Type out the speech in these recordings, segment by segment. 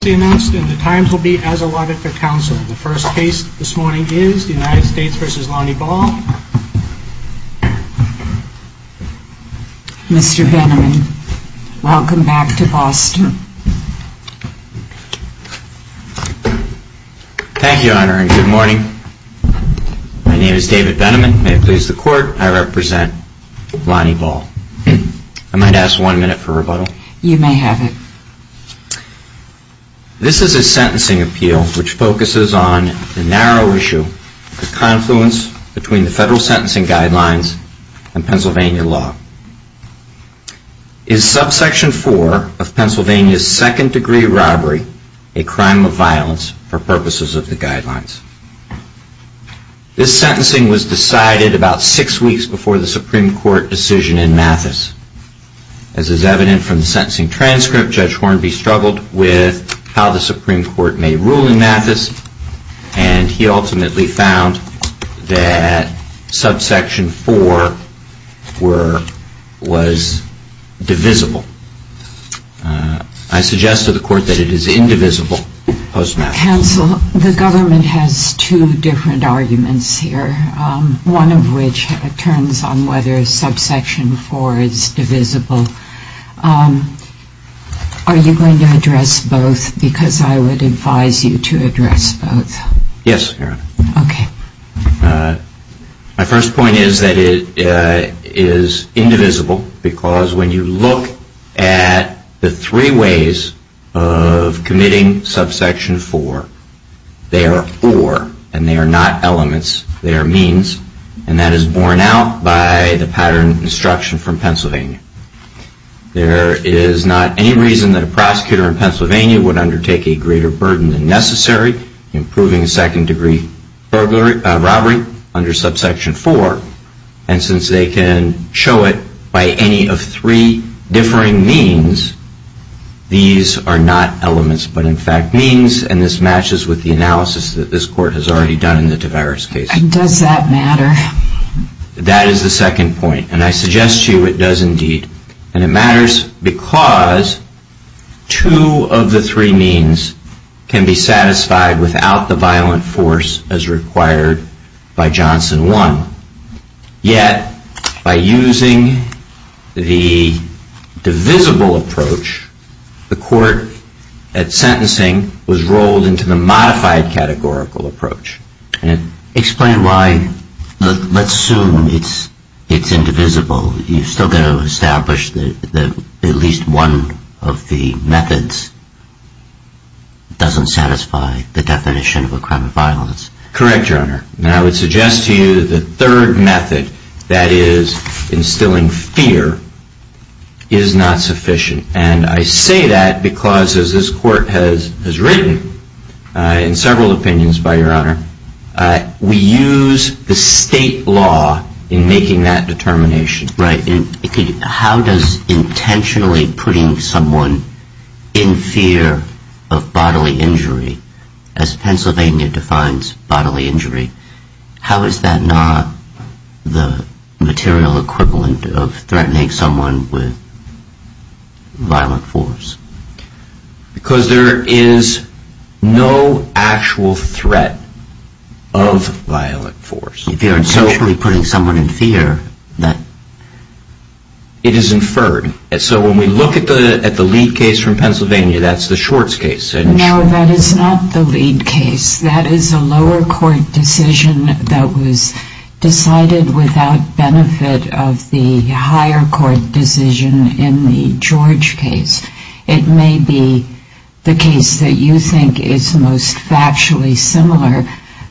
Mr. Benneman, welcome back to Boston. Thank you, Your Honor, and good morning. My name is David Benneman. May it please the Court, I represent Lonnie Ball. I might ask one minute for rebuttal? You may have it. This is a sentencing appeal which focuses on the narrow issue of confluence between the federal sentencing guidelines and Pennsylvania law. Is subsection four of Pennsylvania's second degree robbery a crime of violence for purposes of the guidelines? This sentencing was decided about six weeks before the Supreme Court decision in Mathis. As is evident from the sentencing transcript, Judge Hornby struggled with how the Supreme Court may rule in Mathis, and he ultimately found that subsection four was divisible. I suggest to the Court that it is indivisible post-Mathis. Counsel, the government has two arguments here, one of which turns on whether subsection four is divisible. Are you going to address both? Because I would advise you to address both. Yes, Your Honor. Okay. My first point is that it is indivisible because when you look at the three ways of committing subsection four, they are or, and they are not elements, they are means, and that is borne out by the pattern of instruction from Pennsylvania. There is not any reason that a prosecutor in Pennsylvania would undertake a greater burden than necessary in proving a second degree robbery under subsection four, and since they can show it by any of three differing means, these are not elements but in fact means, and this matches with the analysis that this Court has already done in the Tavares case. Does that matter? That is the second point, and I suggest to you it does indeed, and it matters because two of the three means can be satisfied without the violent force as required by Johnson 1. Yet, by using the divisible approach, the Court at sentencing was rolled into the modified categorical approach. Explain why, let's assume it's indivisible. You've still got to establish that at least one of the methods doesn't satisfy the definition of the third method, that is, instilling fear, is not sufficient, and I say that because as this Court has written in several opinions, by your honor, we use the state law in making that determination. Right. How does intentionally putting someone in fear of bodily injury, as Pennsylvania defines bodily injury, how is that not the material equivalent of threatening someone with violent force? Because there is no actual threat of violent force. If you are intentionally putting someone in fear, that... It is inferred. So when we look at the lead case from Pennsylvania, that's the Schwartz case. No, that is not the lead case. That is a lower court decision that was decided without benefit of the higher court decision in the George case. It may be the case that you think is most factually similar,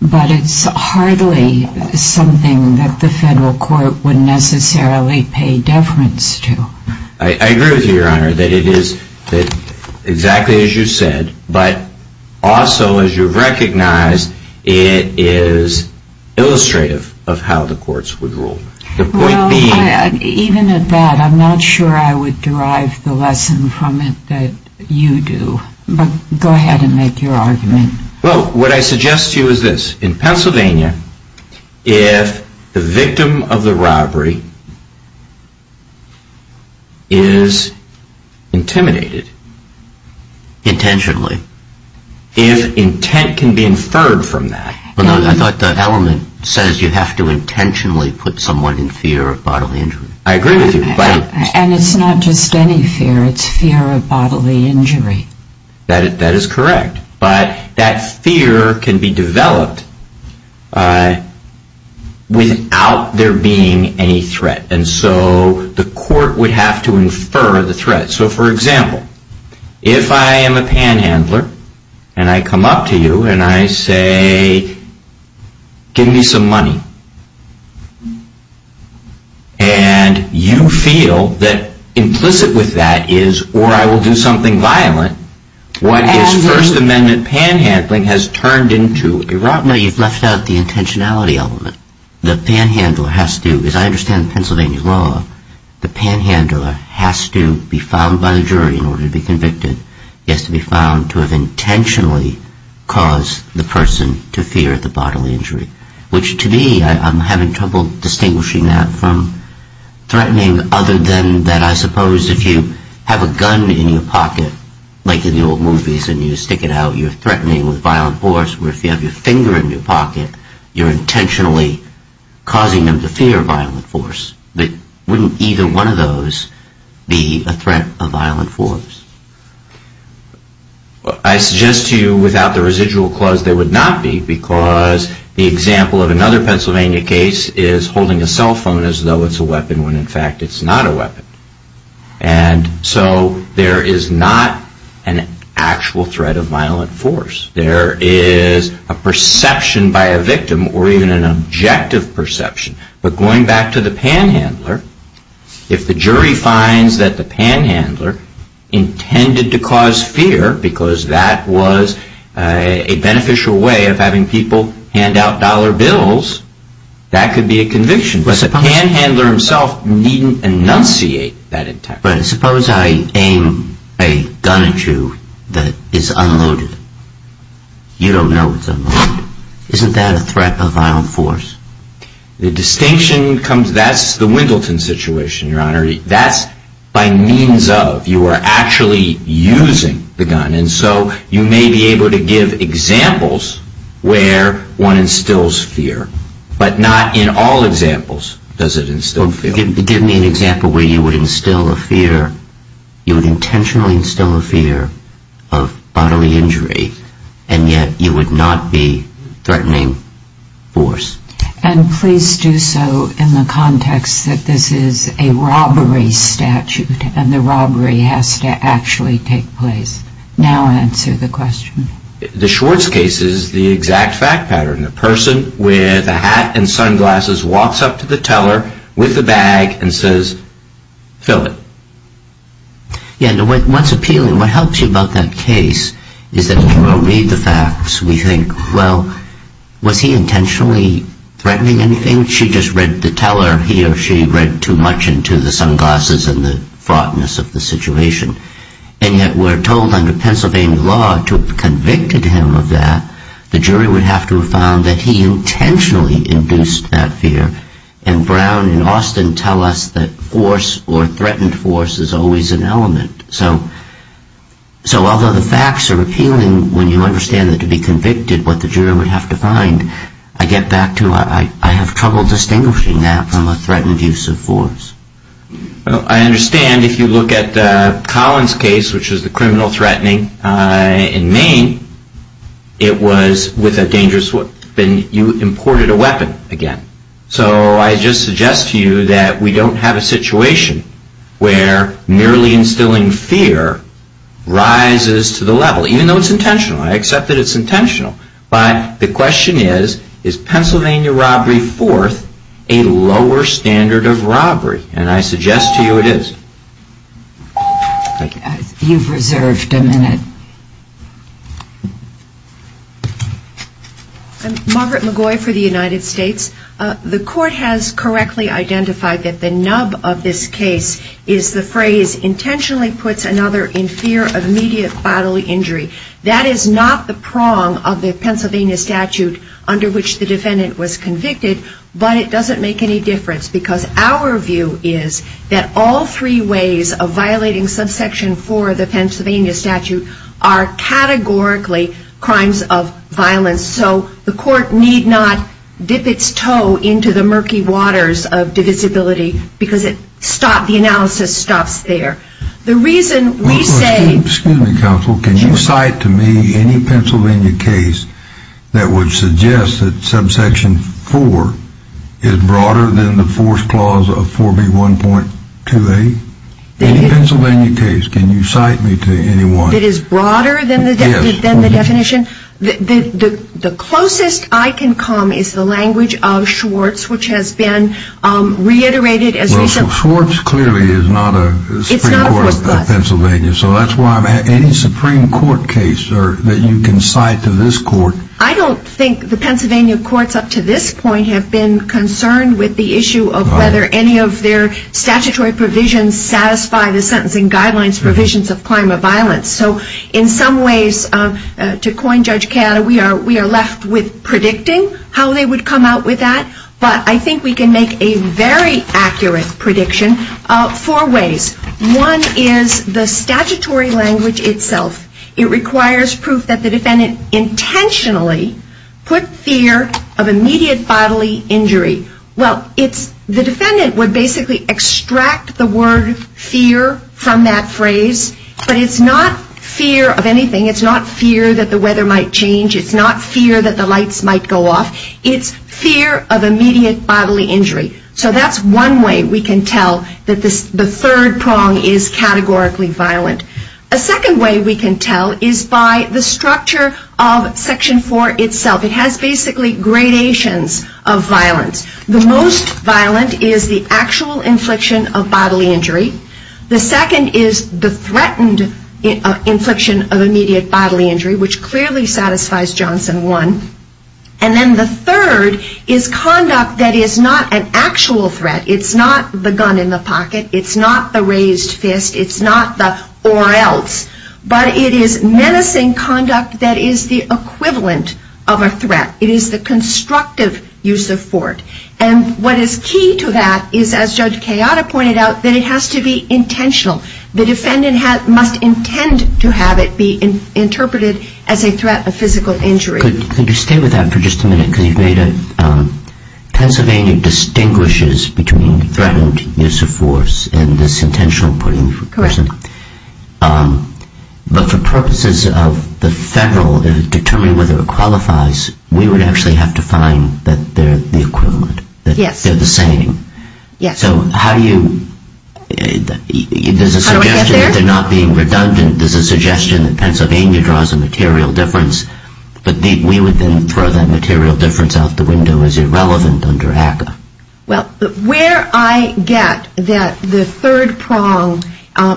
but it's hardly something that the federal court would necessarily pay deference to. I agree with you, your honor, that it is exactly as you said, but also as you recognize, it is illustrative of how the courts would rule. The point being... Well, even at that, I'm not sure I would derive the lesson from it that you do, but go ahead and make your argument. Well, what I suggest to you is this. In Pennsylvania, if the victim of the robbery is intimidated intentionally, if intent can be inferred from that... I thought that element says you have to intentionally put someone in fear of bodily injury. I agree with you, but... And it's not just any fear, it's fear of bodily injury. That is correct, but that fear can be developed without there being any threat, and so the court would have to infer the threat. So, for example, if I am a panhandler and I come up to you and I say, give me some money, and you feel that implicit with that is, or I will do something violent, what is First Amendment panhandling has turned into a robbery. No, you've left out the intentionality element. The panhandler has to, as I understand Pennsylvania law, the panhandler has to be found by the jury in order to be convicted. He has to be found to have intentionally caused the person to fear the bodily injury, which to me, I'm having trouble distinguishing that from threatening other than that I suppose if you have a gun in your pocket, like in the old movies and you stick it out, you're threatening with violent force, where if you have your finger in your pocket, you're intentionally causing them to fear violent force. Wouldn't either one of those be a threat of violent force? I suggest to you without the residual clause there would not be, because the example of another Pennsylvania case is holding a cell that's not a weapon. And so there is not an actual threat of violent force. There is a perception by a victim or even an objective perception. But going back to the panhandler, if the jury finds that the panhandler intended to cause fear because that was a beneficial way of having people hand out dollar bills, that could be a conviction. But the panhandler himself needn't enunciate that intent. But suppose I aim a gun at you that is unloaded. You don't know it's unloaded. Isn't that a threat of violent force? The distinction comes that's the Wendelton situation, Your Honor. That's by means of you are actually using the gun. And so you may be able to give examples where one instills fear, but not in all examples does it instill fear. Give me an example where you would instill a fear, you would intentionally instill a fear of bodily injury and yet you would not be threatening force. And please do so in the context that this is a robbery statute and the robbery has to actually take place. Now answer the question. The Schwartz case is the exact fact pattern. A person with a hat and sunglasses walks up to the teller with a bag and says, fill it. What's appealing, what helps you about that case is that when you read the facts, we think, well, was he intentionally threatening anything? She just read the teller, he or she read too much into the sunglasses and the fraughtness of the situation. And yet we're told under Pennsylvania law to have convicted him of that, the jury would have to have found that he intentionally induced that fear. And Brown and Austin tell us that force or threatened force is always an element. So although the facts are appealing when you understand that to be convicted what the jury would have to find, I get back to I have trouble distinguishing that from a threatened use of force. I understand if you look at Collins' case, which is the criminal threatening in Maine, it was with a dangerous weapon, you imported a weapon again. So I just suggest to you that we don't have a situation where merely instilling fear rises to the level, even though it's intentional. I accept that it's intentional. But the question is, is Pennsylvania robbery fourth a lower standard of robbery? And I suggest to you it is. You've reserved a minute. Margaret McGoy for the United States. The court has correctly identified that the nub of this case is the phrase intentionally puts another in fear of immediate bodily injury. That is not the prong of the Pennsylvania statute under which the defendant was convicted, but it doesn't make any difference because our view is that all three ways of violating subsection 4 of the Pennsylvania statute are categorically crimes of violence. So the court need not dip its toe into the murky waters of divisibility because the analysis stops there. The reason we say, excuse me, counsel, can you cite to me any Pennsylvania case that would suggest that subsection 4 is broader than the fourth clause of 4B1.2A? Any Pennsylvania case? Can you cite me to anyone that is broader than the definition? The closest I can come is the language of Schwartz, which has been reiterated as recently. Well, Schwartz clearly is not a Supreme Court of Pennsylvania. So that's why I'm asking any Supreme Court case that you can cite to this court. I don't think the Pennsylvania courts up to this point have been concerned with the issue of whether any of their statutory provisions satisfy the sentencing guidelines provisions of climate violence. So in some ways, to coin Judge Cata, we are left with predicting how they would come out with that, but I think we can make a very accurate prediction of four ways. One is the statutory language itself. It requires proof that the defendant intentionally put fear of immediate bodily injury. Well, it's the defendant would basically extract the word fear from that phrase, but it's not fear of anything. It's not fear that the weather might change. It's not fear that the lights might go off. It's fear of immediate bodily injury. So that's one way we can tell that the third prong is categorically violent. A second way we can tell is by the structure of Section 4 itself. It has basically gradations of violence. The most violent is the actual infliction of bodily injury. The second is the threatened infliction of immediate bodily injury, which clearly satisfies Johnson 1. And then the third is conduct that is not an actual threat. It's not the gun in the pocket. It's not the raised fist. It's not the or else. But it is menacing conduct that is the equivalent of a threat. It is the constructive use of fort. And what is key to that is, as a defendant must intend to have it be interpreted as a threat of physical injury. Could you stay with that for just a minute? Because you've made it, Pennsylvania distinguishes between threatened use of force and this intentional putting of a person. Correct. But for purposes of the federal determining whether it qualifies, we would actually have to find that they're the equivalent, that they're the same. Yes. So how do you, there's a suggestion that they're not being redundant. There's a suggestion that Pennsylvania draws a material difference. But we would then throw that material difference out the window as irrelevant under ACCA. Well, where I get that the third prong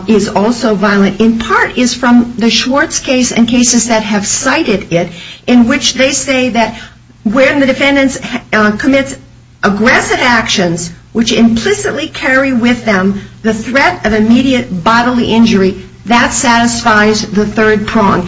is also violent in part is from the Schwartz case and cases that have cited it, in which they say that when the defendant commits aggressive actions, which implicitly carry with them the threat of immediate bodily injury, that satisfies the third prong.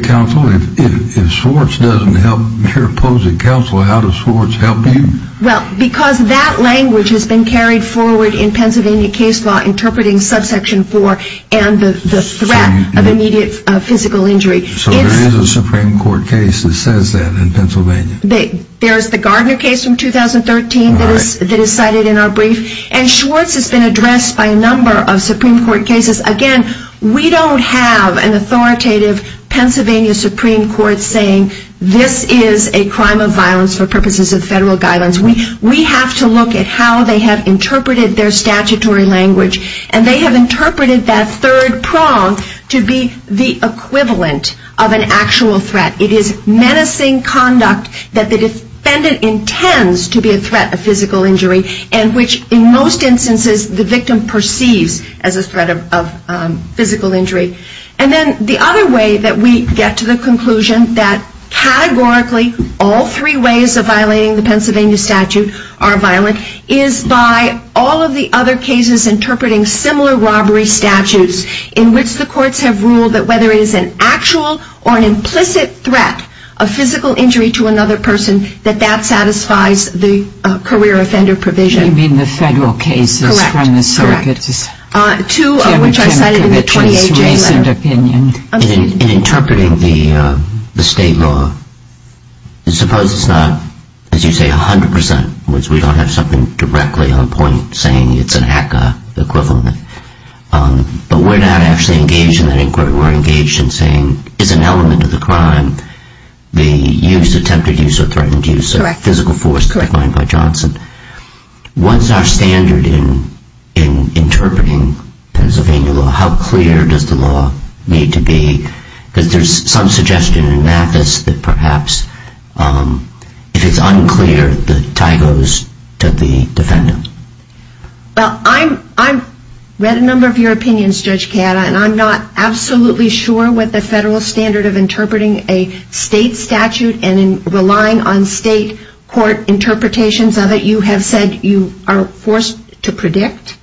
Counsel, if Schwartz doesn't help your opposing counsel, how does Schwartz help you? Well, because that language has been carried forward in Pennsylvania case law interpreting subsection four and the threat of immediate physical injury. So there is a Supreme Court case that says that in Pennsylvania? There's the Gardner case from 2013 that is cited in our brief. And Schwartz has been addressed by a number of Supreme Court cases. Again, we don't have an authoritative Pennsylvania Supreme Court saying this is a crime of violence for purposes of federal guidance. We have to look at how they have interpreted their statutory language. And they have interpreted that third prong to be the equivalent of an actual threat. It is menacing conduct that the defendant intends to be a threat of physical injury and which in most instances the victim perceives as a threat of physical injury. And then the other way that we get to the conclusion that categorically all three ways of violating the Pennsylvania statute are violent is by all of the other cases interpreting similar robbery statutes in which the courts have ruled that whether it is an actual or a threat of physical injury to another person, that that satisfies the career offender provision. You mean the federal cases from the circuit? Correct. Correct. Two of which are cited in the 28th jailer. In interpreting the state law, suppose it's not, as you say, 100 percent, which we don't have something directly on point saying it's an HACA equivalent. But we're not actually engaged in that inquiry. We're engaged in saying it's an element of the crime. The use, attempted use, or threatened use of physical force, as defined by Johnson. What's our standard in interpreting Pennsylvania law? How clear does the law need to be? Because there's some suggestion in Mathis that perhaps if it's unclear, the tie goes to the defendant. Well, I've read a number of your opinions, Judge Cata, and I'm not absolutely sure what the federal standard of interpreting a state statute and relying on state court interpretations of it you have said you are forced to predict.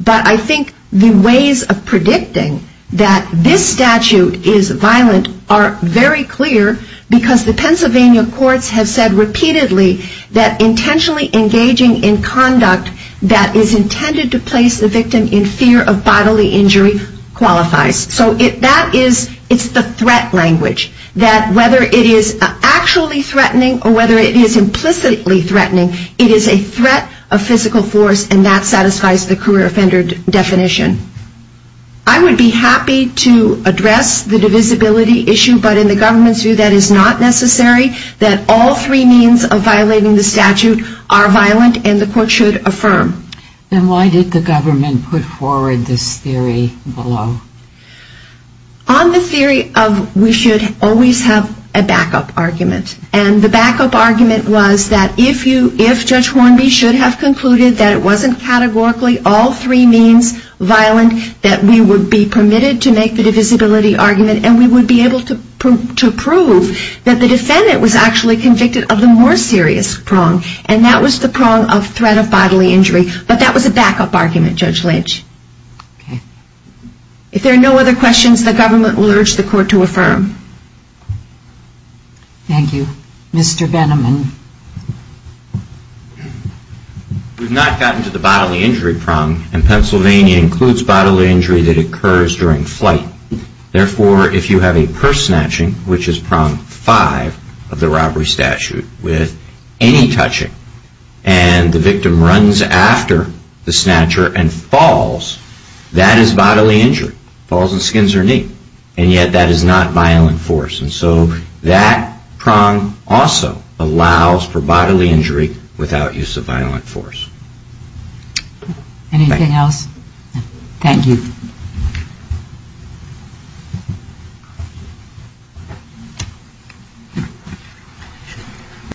But I think the ways of predicting that this statute is violent are very clear because the Pennsylvania courts have said repeatedly that intentionally engaging in conduct that is intended to place the victim in fear of bodily injury qualifies. So that is, it's the threat language. That whether it is actually threatening or whether it is implicitly threatening, it is a threat of physical force, and that satisfies the career offender definition. I would be happy to address the divisibility issue, but in the government's view that is not necessary, that all three means of violating the statute are violent and the court should affirm. And why did the government put forward this theory below? On the theory of we should always have a backup argument. And the backup argument was that if you, if Judge Hornby should have concluded that it wasn't categorically all three means violent, that we would be permitted to make the divisibility argument and we would be able to prove that the defendant was actually convicted of the more serious prong, and that was the prong of threat of bodily injury, but that was a backup argument, Judge Lynch. If there are no other questions, the government will urge the court to affirm. Thank you. Mr. Veneman. We have not gotten to the bodily injury prong, and Pennsylvania includes bodily injury that involves force snatching, which is prong five of the robbery statute with any touching. And the victim runs after the snatcher and falls, that is bodily injury. Falls and skins their knee. And yet that is not violent force. And so that prong also allows for bodily injury without use of violent force. Anything else? Thank you. Thank you.